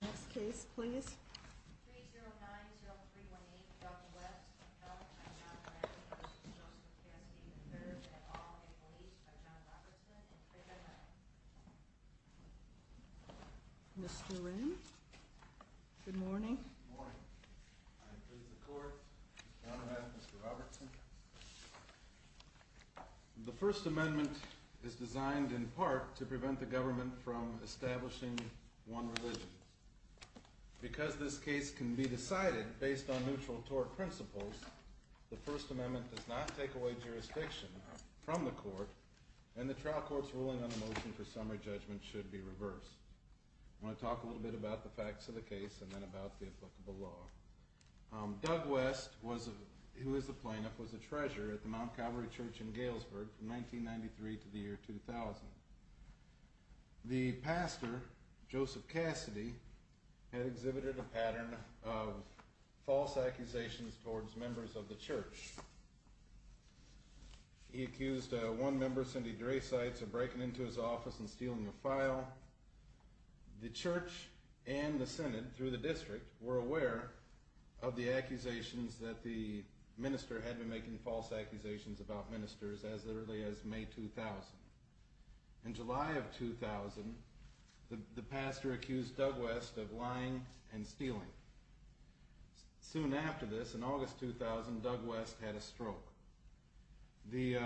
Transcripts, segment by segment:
Next case please. Mr. Good morning. The First Amendment is designed in part to prevent the government from establishing one. Because this case can be decided based on neutral tort principles, the First Amendment does not take away jurisdiction from the court and the trial court's ruling on the motion for summary judgment should be reversed. I want to talk a little bit about the facts of the case and then about the applicable law. Doug West, who is a plaintiff, was a treasurer at the Mount Calvary Church in Galesburg from 1993 to the year 2000. The pastor, Joseph Cassady, had exhibited a pattern of false accusations towards members of the church. He accused one member, Cindy Drasites, of breaking into his office and stealing a file. The church and the Senate, through the district, were aware of the accusations that the minister had been making false accusations about ministers as early as May 2000. In July of 2000, the pastor accused Doug West of lying and stealing. Soon after this, in August 2000, Doug West had a stroke. The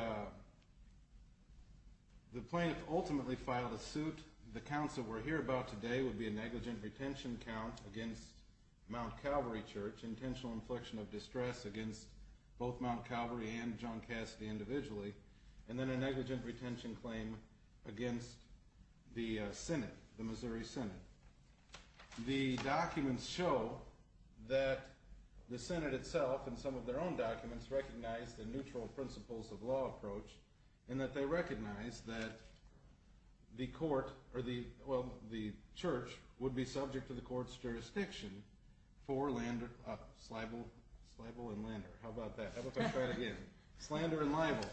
plaintiff ultimately filed a suit. The counts that we're here about today would be a negligent retention count against Mount Calvary Church, intentional infliction of distress against both Mount Calvary and John Cassady individually, and then a negligent retention claim against the Senate, the Missouri Senate. The documents show that the Senate itself, in some of their own documents, recognized a neutral principles of law approach, and that they recognized that the court, or the, well, the church, would be subject to the court's jurisdiction for lander, slyble, slyble and lander, how about that? How about if I try it again? Slander and libel.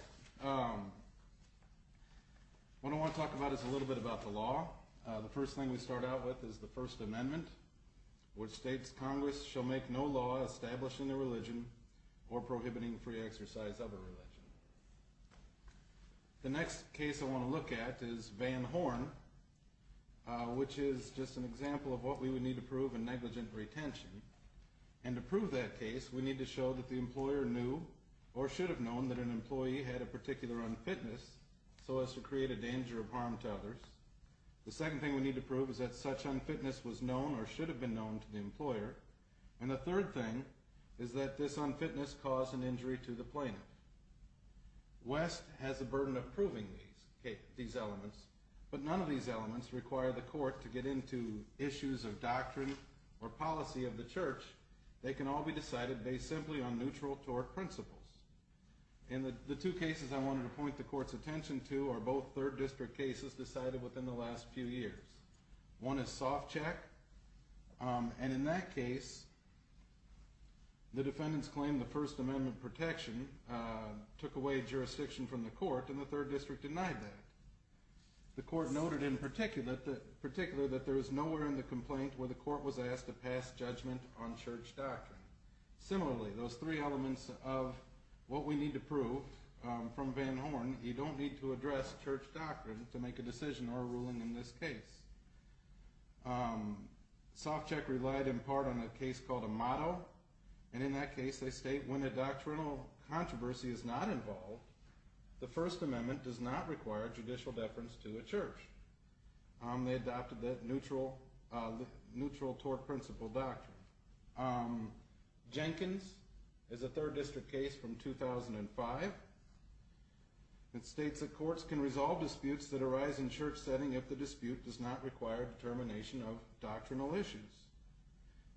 What I want to talk about is a little bit about the law. The first thing we start out with is the First Amendment, which states Congress shall make no law establishing a religion or prohibiting free exercise of a religion. The next case I want to look at is Van Horn, which is just an example of what we would need to prove in negligent retention. And to prove that case, we need to show that the employer knew, or should have known, that an employee had a particular unfitness so as to create a danger of harm to others. The second thing we need to prove is that such unfitness was known or should have been known to the employer. And the third thing is that this unfitness caused an injury to the plaintiff. West has a burden of proving these, these elements, but none of these elements require the court to get into issues of doctrine or policy of the church, they can all be decided based simply on neutral tort principles. And the two cases I wanted to point the court's attention to are both third district cases decided within the last few years. One is soft check, and in that case, the defendants claimed the First Amendment protection took away jurisdiction from the court and the third district denied that. The court noted in particular that there was nowhere in the complaint where the court was asked to pass judgment on church doctrine. Similarly, those three elements of what we need to prove from Van Horn, you don't need to address church doctrine to make a decision or a ruling in this case. Soft check relied in part on a case called a motto, and in that case, they state when a doctrinal controversy is not involved, the First Amendment does not require judicial deference to a church. They adopted that neutral, neutral tort principle doctrine. Jenkins is a third district case from 2005. It states that courts can resolve disputes that arise in church setting if the dispute does not require determination of doctrinal issues.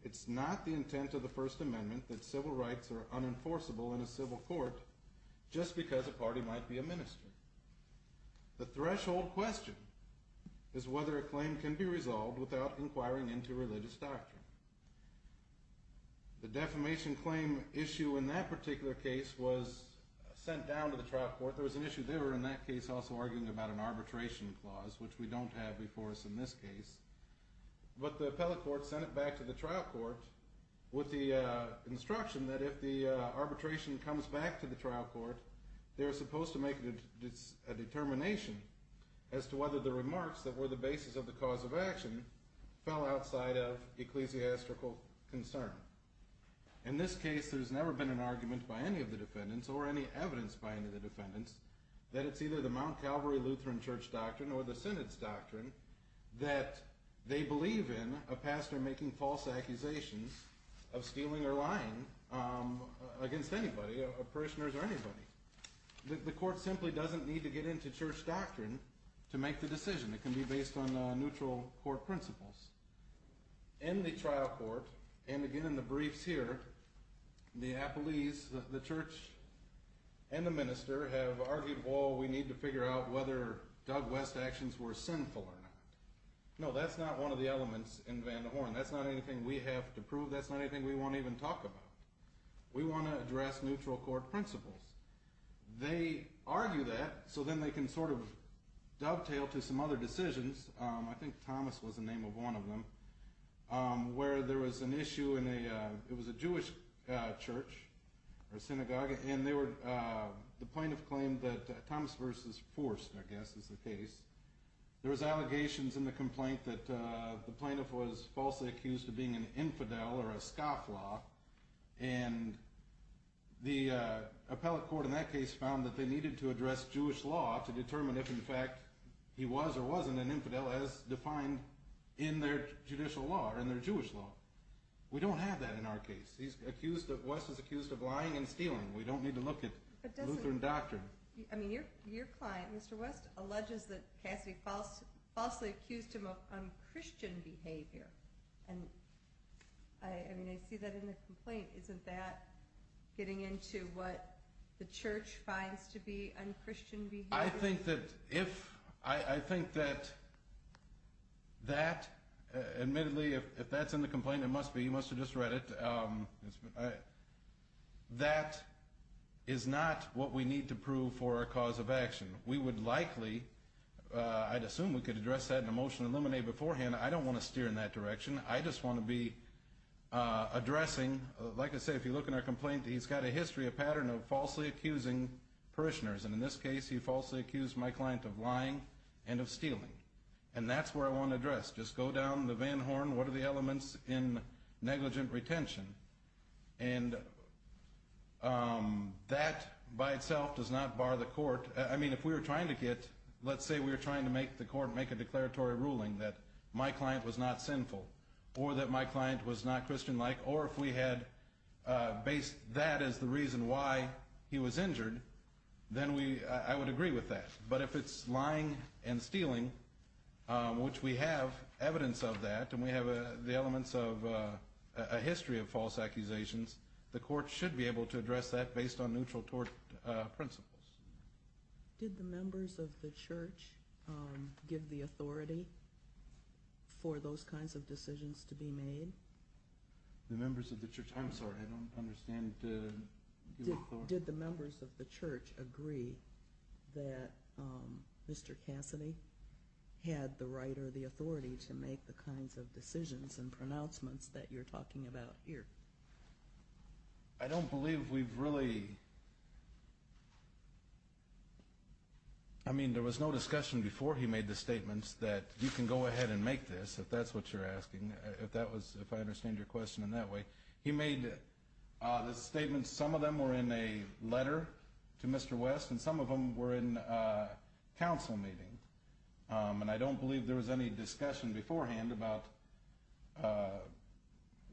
It's not the intent of the First Amendment that civil rights are unenforceable in a civil court just because a party might be a minister. The threshold question is whether a claim can be resolved without inquiring into religious doctrine. The defamation claim issue in that particular case was sent down to the trial court. There was an issue there in that case also arguing about an arbitration clause, which we don't have before us in this case. But the appellate court sent it back to the trial court with the instruction that if the arbitration comes back to the trial court, they're supposed to make a determination as to whether the remarks that were the basis of the cause of action fell outside of ecclesiastical concern. In this case, there's never been an argument by any of the defendants or any evidence by any of the defendants that it's either the Mount Calvary Lutheran church doctrine or the synod's doctrine that they believe in a pastor making false accusations of stealing or lying against anybody, a parishioners or anybody. The court simply doesn't need to get into church doctrine to make the decision. It can be based on neutral court principles. In the trial court, and again in the briefs here, the appellees, the church and the minister have argued, well, we need to figure out whether Doug West actions were sinful or not. No, that's not one of the elements in Van de Horne. That's not anything we have to prove. That's not anything we want to even talk about. We want to address neutral court principles. They argue that so then they can sort of dovetail to some other decisions. I think Thomas was the name of one of them, where there was an issue in a, it was a Jewish church or synagogue and they were, the plaintiff claimed that Thomas versus forced, I guess is the case. There was allegations in the complaint that the plaintiff was falsely accused of being an infidel or a scofflaw. And the appellate court in that case found that they needed to address Jewish law to determine if in fact he was or wasn't an infidel as defined in their judicial law or in their Jewish law. We don't have that in our case. He's accused of, West is accused of lying and stealing. We don't need to look at Lutheran doctrine. I mean, your, your client, Mr. West alleges that Cassidy falsely accused him of un-Christian behavior. And I, I mean, I see that in the complaint. Isn't that getting into what the church finds to be un-Christian behavior? I think that if, I, I think that, that admittedly, if, if that's in the complaint, it must be, you must have just read it. It's been, I, that is not what we need to prove for our cause of action. We would likely I'd assume we could address that in a motion eliminated beforehand. I don't want to steer in that direction. I just want to be addressing, like I say, if you look in our complaint, he's got a history, a pattern of falsely accusing parishioners. And in this case, he falsely accused my client of lying and of stealing. And that's where I want to address. Just go down the van horn. What are the elements in negligent retention? And that by itself does not bar the court. I mean, if we were trying to get, let's say we were trying to make the court make a declaratory ruling that my client was not sinful, or that my client was not Christian-like, or if we had based that as the reason why he was injured, then we, I would agree with that. But if it's lying and stealing, which we have evidence of that, and we have the elements of a history of false accusations, the court should be able to address that based on neutral tort principles. Did the members of the church give the authority for those kinds of decisions to be made? The members of the church, I'm sorry, I don't understand. Did the members of the church agree that Mr. Cassidy had the right or the authority to make the kinds of decisions and pronouncements that you're talking about here? I don't believe we've really, I mean, there was no discussion before he made the statements that you can go ahead and make this, if that's what you're asking, if that was, if I understand your question in that way. He made the statements, some of them were in a letter to Mr. West, and some of them were in a council meeting. And I don't believe there was any discussion beforehand about,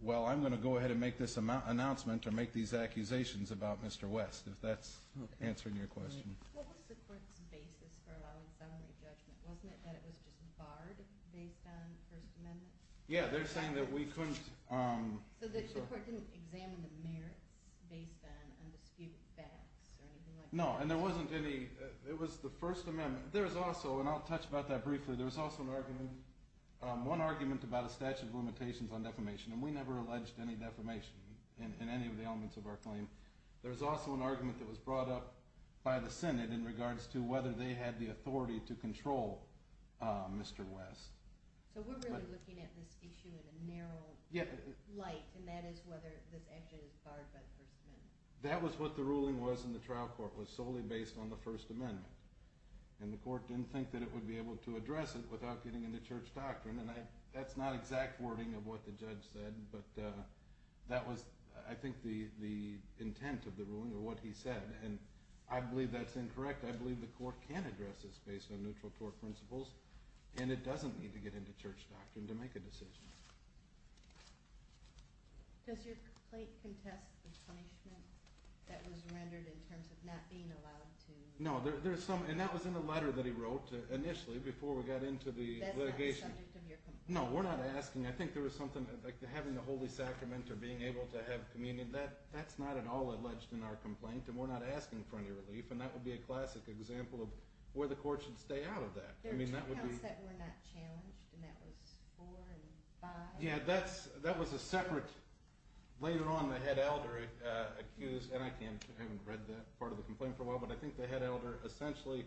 well, I'm going to go ahead and make this announcement or make these accusations about Mr. West, if that's answering your question. What was the court's basis for allowing summary judgment? Wasn't it that it was just barred based on the First Amendment? Yeah, they're saying that we couldn't- So the court didn't examine the merits based on undisputed facts or anything like that? No, and there wasn't any, it was the First Amendment. There's also, and I'll touch about that briefly, there's also an argument, about a statute of limitations on defamation, and we never alleged any defamation in any of the elements of our claim. There's also an argument that was brought up by the Senate in regards to whether they had the authority to control Mr. West. So we're really looking at this issue in a narrow light, and that is whether this action is barred by the First Amendment. That was what the ruling was in the trial court, was solely based on the First Amendment. And the court didn't think that it would be able to address it without getting into church doctrine, and that's not exact wording of what the judge said, but that was, I think, the intent of the ruling, or what he said. And I believe that's incorrect. I believe the court can address this based on neutral tort principles, and it doesn't need to get into church doctrine to make a decision. Does your complaint contest the punishment that was rendered in terms of not being allowed to- No, there's some, and that was in the letter that he wrote, initially, before we got into the litigation. No, we're not asking, I think there was something, like having the Holy Sacrament or being able to have communion, that's not at all alleged in our complaint, and we're not asking for any relief, and that would be a classic example of where the court should stay out of that. There are two counts that were not challenged, and that was four and five. Yeah, that was a separate, later on the head elder accused, and I haven't read that part of the complaint for a while, but I think the head elder essentially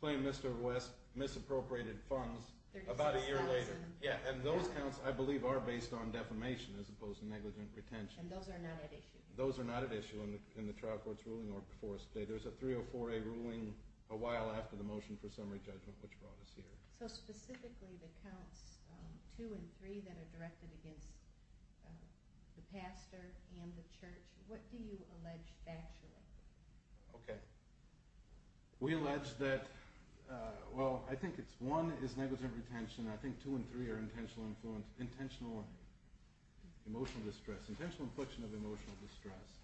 claimed Mr. West misappropriated funds about a year later. Thirty-six thousand. Yeah, and those counts, I believe, are based on defamation as opposed to negligent retention. And those are not at issue. Those are not at issue in the trial court's ruling or before us today. There's a 304A ruling a while after the motion for summary judgment, which brought us here. So, specifically, the counts two and three that are directed against the pastor and the church, what do you allege factually? Okay. We allege that, well, I think it's one is negligent retention. I think two and three are intentional emotional distress, intentional infliction of emotional distress.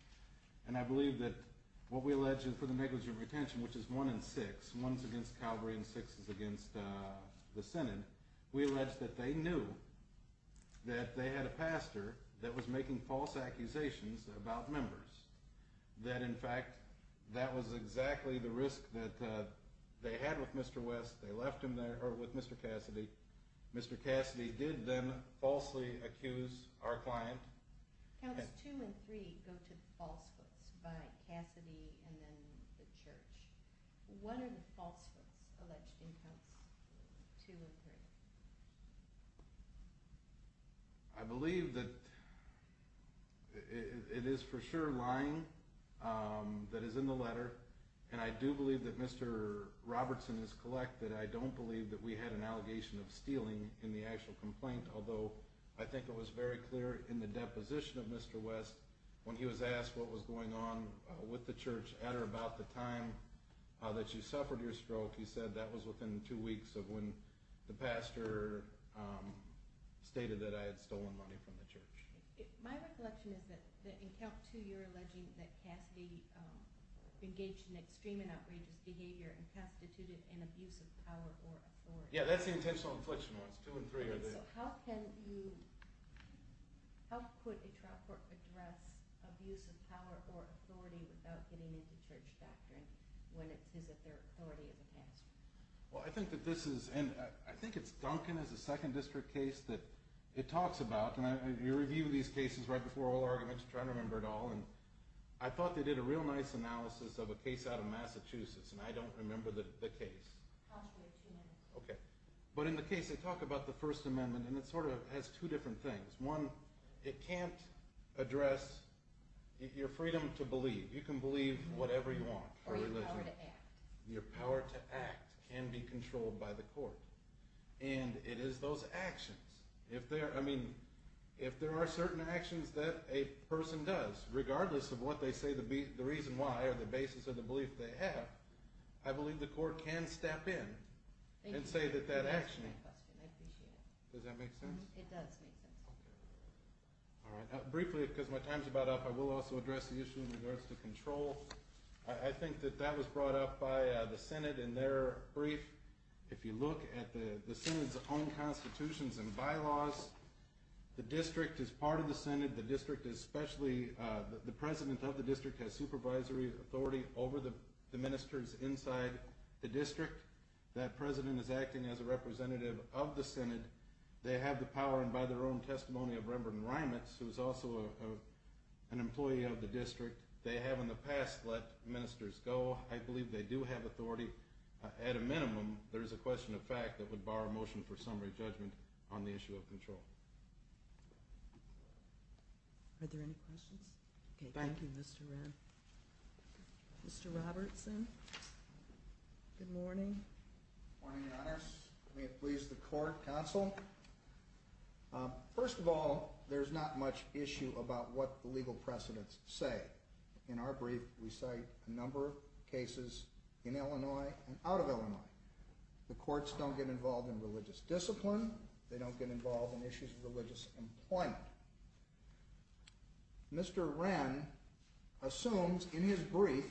And I believe that what we allege for the negligent retention, which is one and six, one's against Calvary and six is against the Synod, we allege that they knew that they had a pastor that was making false accusations about members, that, in fact, that was exactly the risk that they had with Mr. West. They left him there or with Mr. Cassidy. Mr. Cassidy did then falsely accuse our client. Counts two and three go to falsehoods by Cassidy and then the church. What are the falsehoods alleged in counts two and three? I believe that it is for sure lying that is in the letter, and I do believe that Mr. Robertson is collected. I don't believe that we had an allegation of stealing in the actual complaint, although I think it was very clear in the deposition of Mr. West when he was asked what was going on with the church at or about the time that you suffered your stroke, he said that was within two weeks of when the pastor stated that I had stolen money from the church. My recollection is that in count two you're alleging that Cassidy engaged in extreme and outrageous behavior and constituted an abuse of power or authority. Yeah, that's the intentional infliction ones, two and three are the... So how can you, how could a trial court address abuse of power or authority without getting into church doctrine when it says that their authority is a pastor? Well, I think that this is, and I think it's Duncan as a second district case that it talks about, and you review these cases right before all arguments, trying to remember it all, and I thought they did a real nice analysis of a case out of Massachusetts, and I don't remember the case. I'll just wait two minutes. Okay. But in the case they talk about the First Amendment, and it sort of has two different things. One, it can't address your freedom to believe. You can believe whatever you want for religion. Or your power to act. Your power to act can be controlled by the court. And it is those actions, if there are certain actions that a person does, regardless of what they say the reason why or the basis of the belief they have, I believe the court can step in and say that that action... Thank you for asking that question, I appreciate it. Does that make sense? It does make sense. Okay. All right. Briefly, because my time is about up, I will also address the issue in regards to control. I think that that was brought up by the Senate in their brief. If you look at the Senate's own constitutions and bylaws, the district is part of the Senate. The district especially, the president of the district has supervisory authority over the ministers inside the district. That president is acting as a representative of the Senate. They have the power and by their own testimony of Reverend Reimitz, who is also an employee of the district, they have in the past let ministers go. I believe they do have authority. At a minimum, there is a question of fact that would bar a motion for summary judgment on the issue of control. Are there any questions? Thank you, Mr. Ren. Mr. Robertson? Good morning. Good morning, Your Honors. May it please the Court, Counsel. First of all, there's not much issue about what the legal precedents say. In our brief, we cite a number of cases in Illinois and out of Illinois. The courts don't get involved in religious discipline. They don't get involved in issues of religious employment. Mr. Ren assumes in his brief,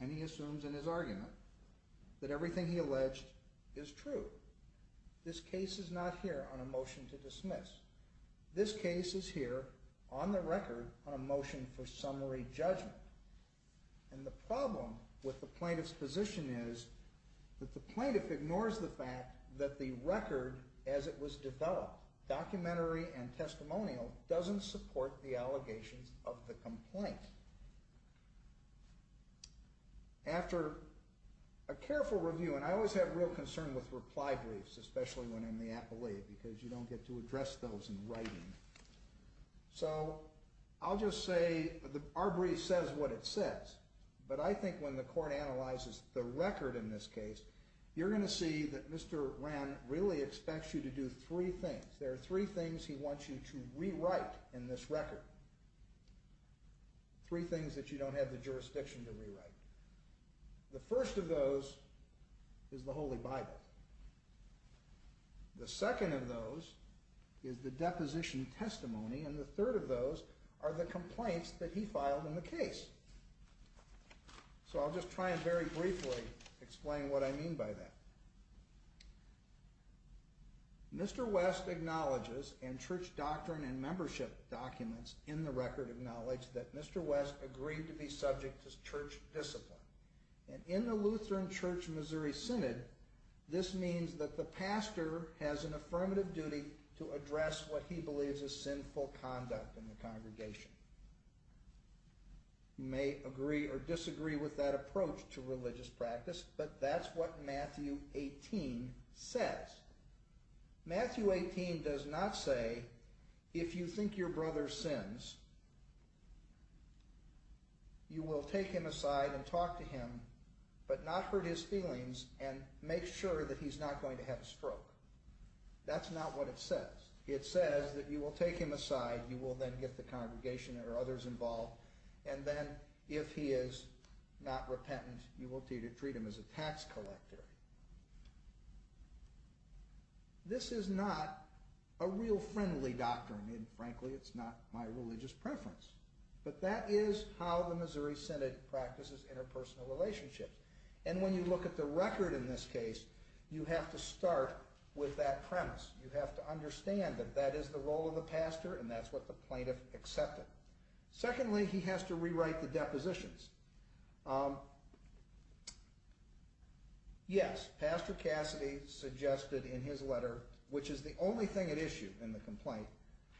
and he assumes in his argument, that everything he alleged is true. This case is not here on a motion to dismiss. This case is here on the record on a motion for summary judgment. The problem with the plaintiff's position is that the plaintiff ignores the fact that the record as it was developed, documentary and testimonial, doesn't support the allegations of the complaint. After a careful review, and I always have real concern with reply briefs, especially when in the appellate, because you don't get to address those in writing. So I'll just say our brief says what it says. But I think when the Court analyzes the record in this case, you're going to see that Mr. Ren really expects you to do three things. There are three things he wants you to rewrite in this record. Three things that you don't have the jurisdiction to rewrite. The first of those is the Holy Bible. The second of those is the deposition testimony, and the third of those are the complaints that he filed in the case. So I'll just try and very briefly explain what I mean by that. Mr. West acknowledges, and church doctrine and membership documents in the record acknowledge that Mr. West agreed to be subject to church discipline. And in the Lutheran Church Missouri Synod, this means that the pastor has an affirmative duty to address what he believes is sinful conduct in the congregation. You may agree or disagree with that approach to religious practice, but that's what Matthew 18 says. Matthew 18 does not say, if you think your brother sins, you will take him aside and talk to him, but not hurt his feelings, and make sure that he's not going to have a stroke. That's not what it says. It says that you will take him aside, you will then get the congregation or others involved, and then if he is not repentant, you will treat him as a tax collector. This is not a real friendly doctrine, and frankly it's not my religious preference, but that is how the Missouri Synod practices interpersonal relationships. And when you look at the record in this case, you have to start with that premise. You have to understand that that is the role of the pastor, and that's what the plaintiff accepted. Secondly, he has to rewrite the depositions. Yes, Pastor Cassidy suggested in his letter, which is the only thing it issued in the complaint,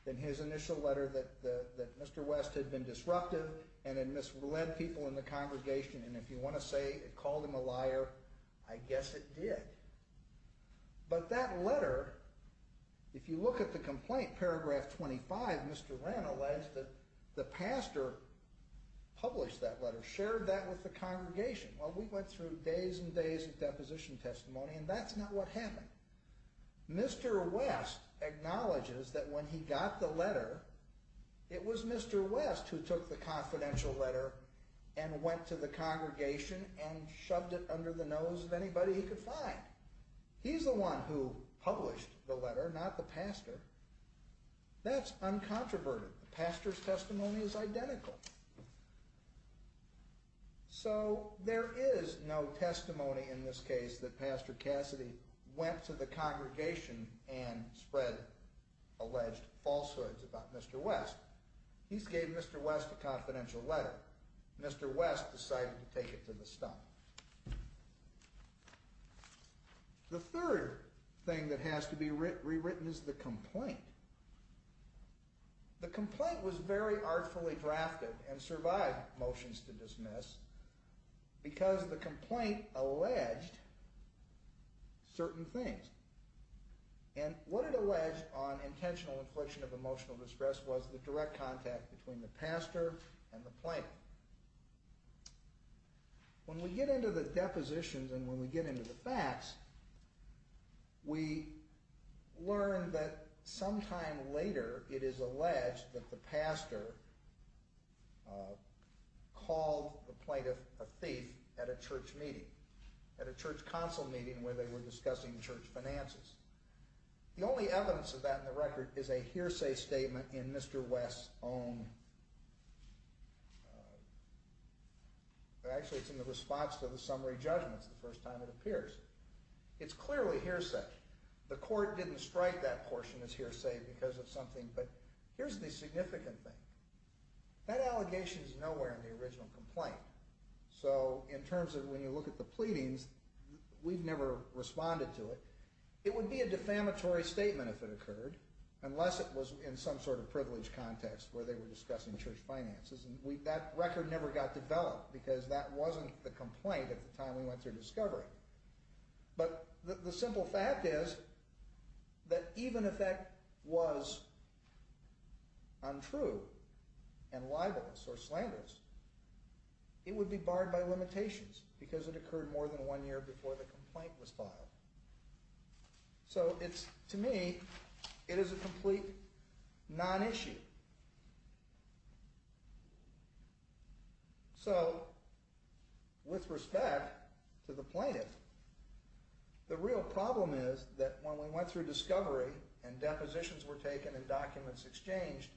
in his initial letter that Mr. West had been disruptive, and had misled people in the congregation, and if you want to say it called him a liar, I guess it did. But that letter, if you look at the complaint, in paragraph 25, Mr. Wren alleged that the pastor published that letter, shared that with the congregation. Well, we went through days and days of deposition testimony, and that's not what happened. Mr. West acknowledges that when he got the letter, it was Mr. West who took the confidential letter and went to the congregation and shoved it under the nose of anybody he could find. He's the one who published the letter, not the pastor. That's uncontroverted. The pastor's testimony is identical. So there is no testimony in this case that Pastor Cassidy went to the congregation and spread alleged falsehoods about Mr. West. He gave Mr. West a confidential letter. Mr. West decided to take it to the stump. The third thing that has to be rewritten is the complaint. The complaint was very artfully drafted and survived motions to dismiss because the complaint alleged certain things. And what it alleged on intentional infliction of emotional distress was the direct contact between the pastor and the plaintiff. When we get into the depositions and when we get into the facts, we learn that sometime later it is alleged that the pastor called the plaintiff a thief at a church meeting, at a church council meeting where they were discussing church finances. The only evidence of that in the record is a hearsay statement in Mr. West's own... Actually, it's in the response to the summary judgments the first time it appears. It's clearly hearsay. The court didn't strike that portion as hearsay because of something, but here's the significant thing. That allegation is nowhere in the original complaint. So in terms of when you look at the pleadings, we've never responded to it. It would be a defamatory statement if it occurred, unless it was in some sort of privileged context where they were discussing church finances, and that record never got developed because that wasn't the complaint at the time we went through discovery. But the simple fact is that even if that was untrue and libelous or slanderous, it would be barred by limitations because it occurred more than one year before the complaint was filed. So to me, it is a complete non-issue. So with respect to the plaintiff, the real problem is that when we went through discovery and depositions were taken and documents exchanged,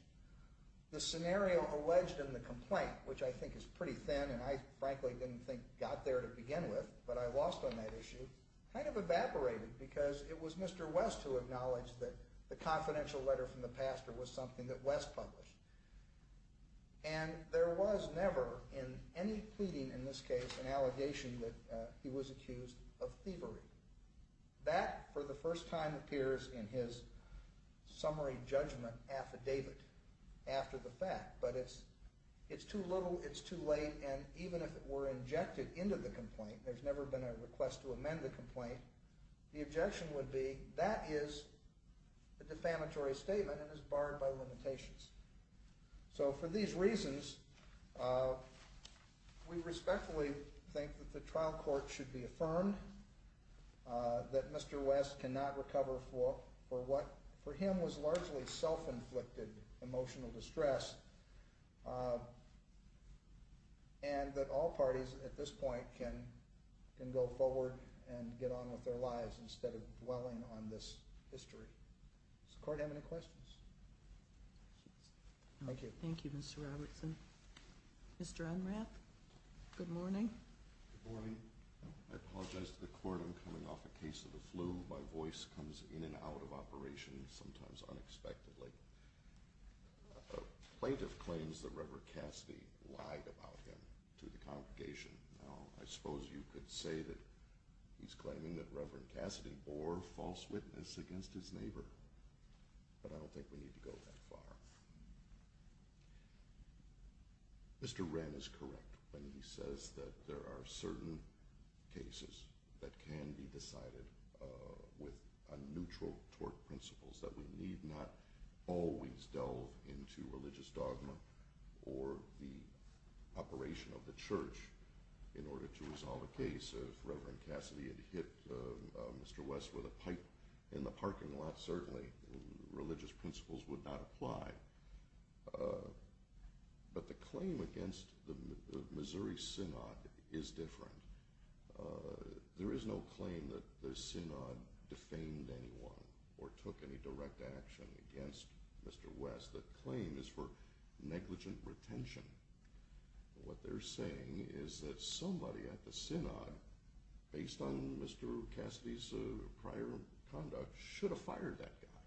the scenario alleged in the complaint, which I think is pretty thin and I frankly didn't think got there to begin with, but I lost on that issue, kind of evaporated because it was Mr. West who acknowledged that the confidential letter from the pastor was something that West published. And there was never in any pleading in this case an allegation that he was accused of thievery. That for the first time appears in his summary judgment affidavit after the fact, but it's too little, it's too late, and even if it were injected into the complaint, there's never been a request to amend the complaint, the objection would be that is a defamatory statement and is barred by limitations. So for these reasons, we respectfully think that the trial court should be affirmed that Mr. West cannot recover for what for him was largely self-inflicted emotional distress and that all parties at this point can go forward and get on with their lives instead of dwelling on this history. Does the court have any questions? Thank you. Thank you, Mr. Robertson. Mr. Unrath, good morning. Good morning. I apologize to the court, I'm coming off a case of the flu. My voice comes in and out of operation sometimes unexpectedly. A plaintiff claims that Reverend Cassidy lied about him to the congregation. Now, I suppose you could say that he's claiming that Reverend Cassidy bore false witness against his neighbor, but I don't think we need to go that far. Mr. Wren is correct when he says that there are certain cases that can be decided with neutral tort principles, that we need not always delve into religious dogma or the operation of the church in order to resolve a case. If Reverend Cassidy had hit Mr. West with a pipe in the parking lot, certainly religious principles would not apply. But the claim against the Missouri Synod is different. There is no claim that the Synod defamed anyone or took any direct action against Mr. West. The claim is for negligent retention. What they're saying is that somebody at the Synod, based on Mr. Cassidy's prior conduct, should have fired that guy.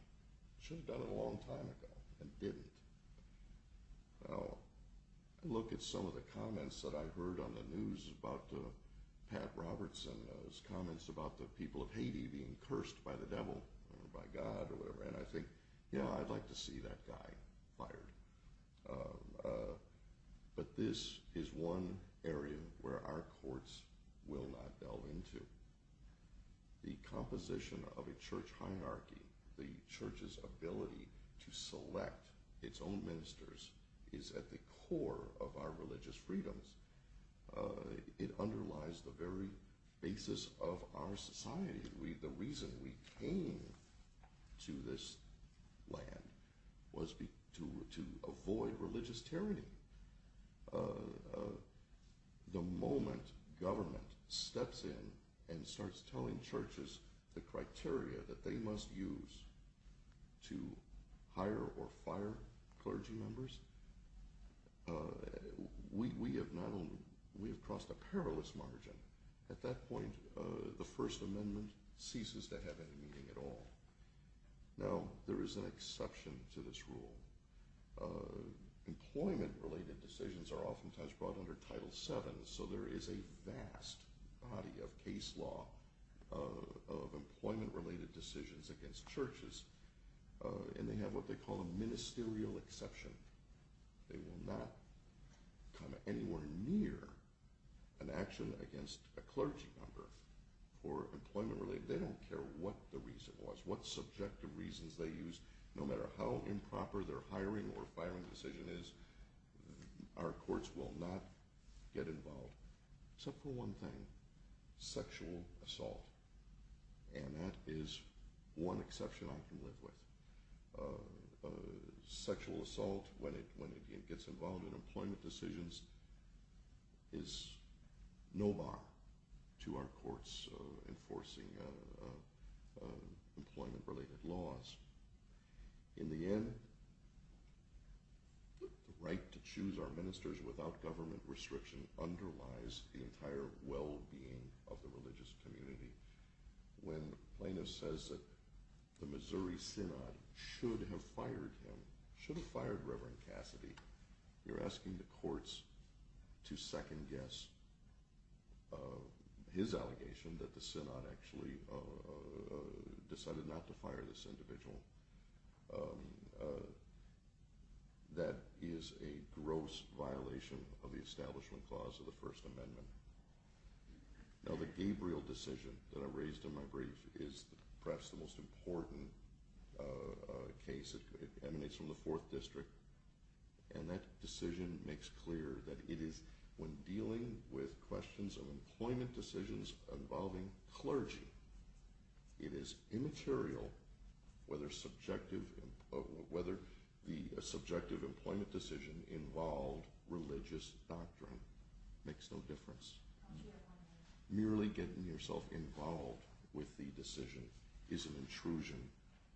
Should have done it a long time ago, and didn't. I look at some of the comments that I've heard on the news about Pat Robertson, those comments about the people of Haiti being cursed by the devil, or by God, or whatever, and I think, yeah, I'd like to see that guy fired. But this is one area where our courts will not delve into. The composition of a church hierarchy, the church's ability to select its own ministers, is at the core of our religious freedoms. It underlies the very basis of our society. The reason we came to this land was to avoid religious tyranny. The moment government steps in and starts telling churches the criteria that they must use to hire or fire clergy members, we have crossed a perilous margin. At that point, the First Amendment ceases to have any meaning at all. Now, there is an exception to this rule. Employment-related decisions are oftentimes brought under Title VII, so there is a vast body of case law of employment-related decisions against churches, and they have what they call a ministerial exception. They will not come anywhere near an action against a clergy member for employment-related. They don't care what the reason was, what subjective reasons they used. No matter how improper their hiring or firing decision is, our courts will not get involved, except for one thing – sexual assault. And that is one exception I can live with. Sexual assault, when it gets involved in employment decisions, is no bar to our courts enforcing employment-related laws. In the end, the right to choose our ministers without government restriction underlies the entire well-being of the religious community. When plaintiffs say that the Missouri Synod should have fired him, should have fired Reverend Cassidy, you're asking the courts to second-guess his allegation that the Synod actually decided not to fire this individual. That is a gross violation of the Establishment Clause of the First Amendment. Now, the Gabriel decision that I raised in my brief is perhaps the most important case. It emanates from the Fourth District, and that decision makes clear that it is when dealing with questions of employment decisions involving clergy. It is immaterial whether the subjective employment decision involved religious doctrine. It makes no difference. Merely getting yourself involved with the decision is an intrusion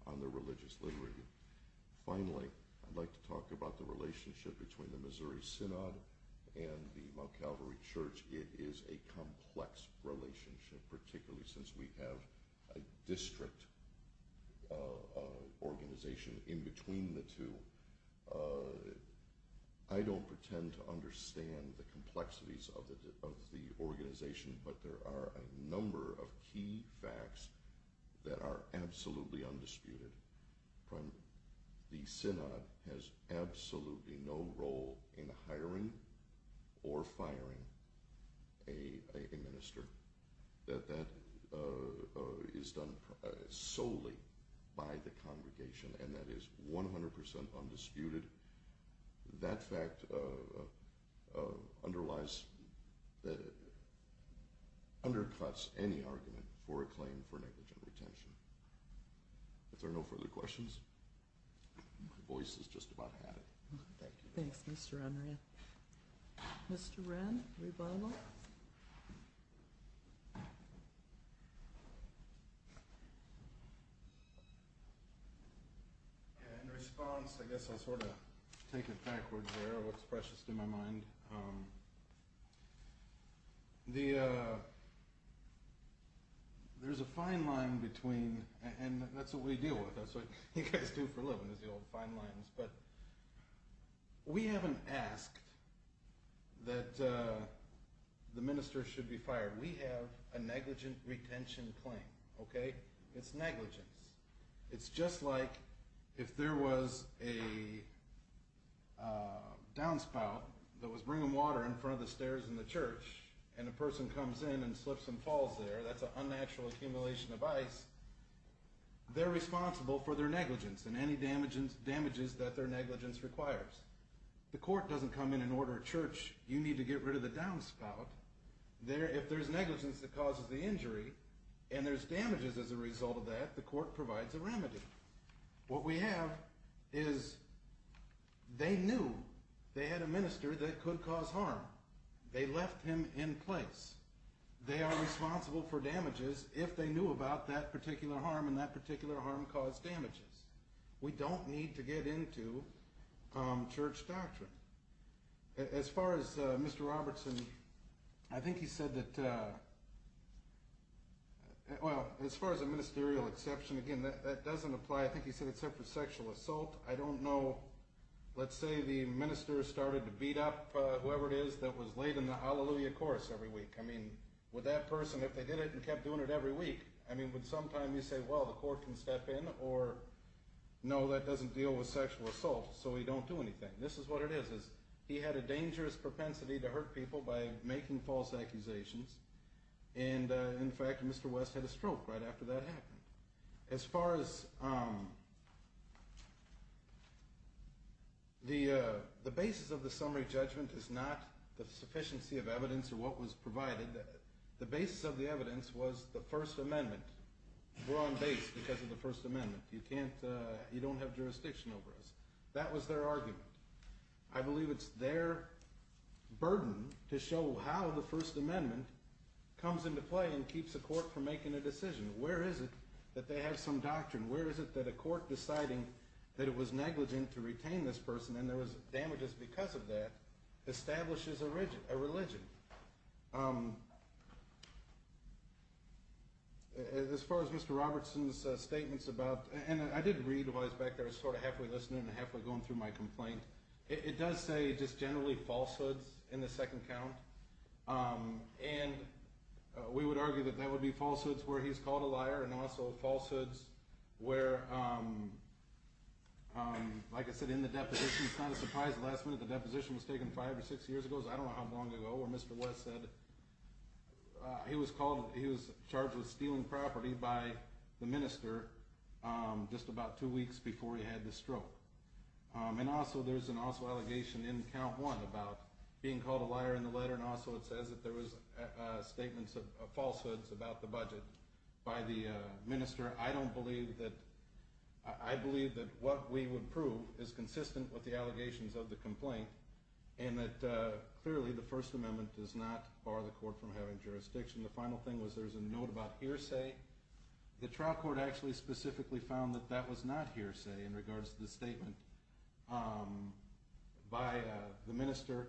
on the religious liturgy. Finally, I'd like to talk about the relationship between the Missouri Synod and the Mount Calvary Church. It is a complex relationship, particularly since we have a district organization in between the two. I don't pretend to understand the complexities of the organization, but there are a number of key facts that are absolutely undisputed. The Synod has absolutely no role in hiring or firing a minister. That is done solely by the congregation, and that is 100% undisputed. That fact undercuts any argument for a claim for negligent retention. If there are no further questions, my voice is just about out. Thank you. Thanks, Mr. Unruh. Mr. Wren, rebuttal. In response, I guess I'll sort of take it backwards here, what's precious to my mind. There's a fine line between, and that's what we deal with, that's what you guys do for a living is the old fine lines, but we haven't asked that the minister should be fired. We have a negligent retention claim, okay? It's negligence. It's just like if there was a downspout that was bringing water in front of the stairs in the church, and a person comes in and slips and falls there, that's an unnatural accumulation of ice. They're responsible for their negligence and any damages that their negligence requires. The court doesn't come in and order a church, you need to get rid of the downspout. If there's negligence that causes the injury, and there's damages as a result of that, the court provides a remedy. What we have is they knew they had a minister that could cause harm. They left him in place. They are responsible for damages if they knew about that particular harm, and that particular harm caused damages. We don't need to get into church doctrine. As far as Mr. Robertson, I think he said that, well, as far as a ministerial exception, again, that doesn't apply, I think he said, except for sexual assault. I don't know. Let's say the minister started to beat up whoever it is that was late in the hallelujah chorus every week. I mean, would that person, if they did it and kept doing it every week, I mean, would sometime you say, well, the court can step in, or no, that doesn't deal with sexual assault, so we don't do anything. This is what it is. He had a dangerous propensity to hurt people by making false accusations, and, in fact, Mr. West had a stroke right after that happened. As far as the basis of the summary judgment is not the sufficiency of evidence or what was provided. The basis of the evidence was the First Amendment. We're on base because of the First Amendment. You don't have jurisdiction over us. That was their argument. I believe it's their burden to show how the First Amendment comes into play and keeps the court from making a decision. Where is it that they have some doctrine? Where is it that a court deciding that it was negligent to retain this person and there was damages because of that establishes a religion? As far as Mr. Robertson's statements about, and I did read while I was back there, I was sort of halfway listening and halfway going through my complaint. It does say just generally falsehoods in the second count, and we would argue that that would be falsehoods where he's called a liar and also falsehoods where, like I said, in the deposition, it's not a surprise the last minute the deposition was taken five or six years ago, I don't know how long ago, where Mr. West said he was charged with stealing property by the minister just about two weeks before he had the stroke. And also there's an also allegation in count one about being called a liar in the letter and also it says that there was statements of falsehoods about the budget by the minister. I don't believe that, I believe that what we would prove is consistent with the allegations of the complaint and that clearly the First Amendment does not bar the court from having jurisdiction. The final thing was there was a note about hearsay. The trial court actually specifically found that that was not hearsay in regards to the statement by the minister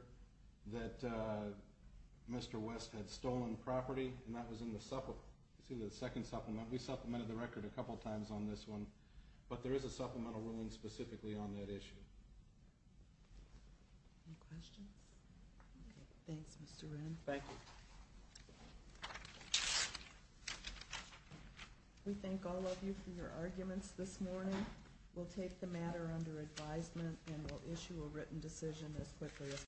that Mr. West had stolen property, and that was in the second supplement. We supplemented the record a couple times on this one, but there is a supplemental ruling specifically on that issue. Any questions? Thanks, Mr. Wren. Thank you. We thank all of you for your arguments this morning. We'll take the matter under advisement and we'll issue a written decision as quickly as possible.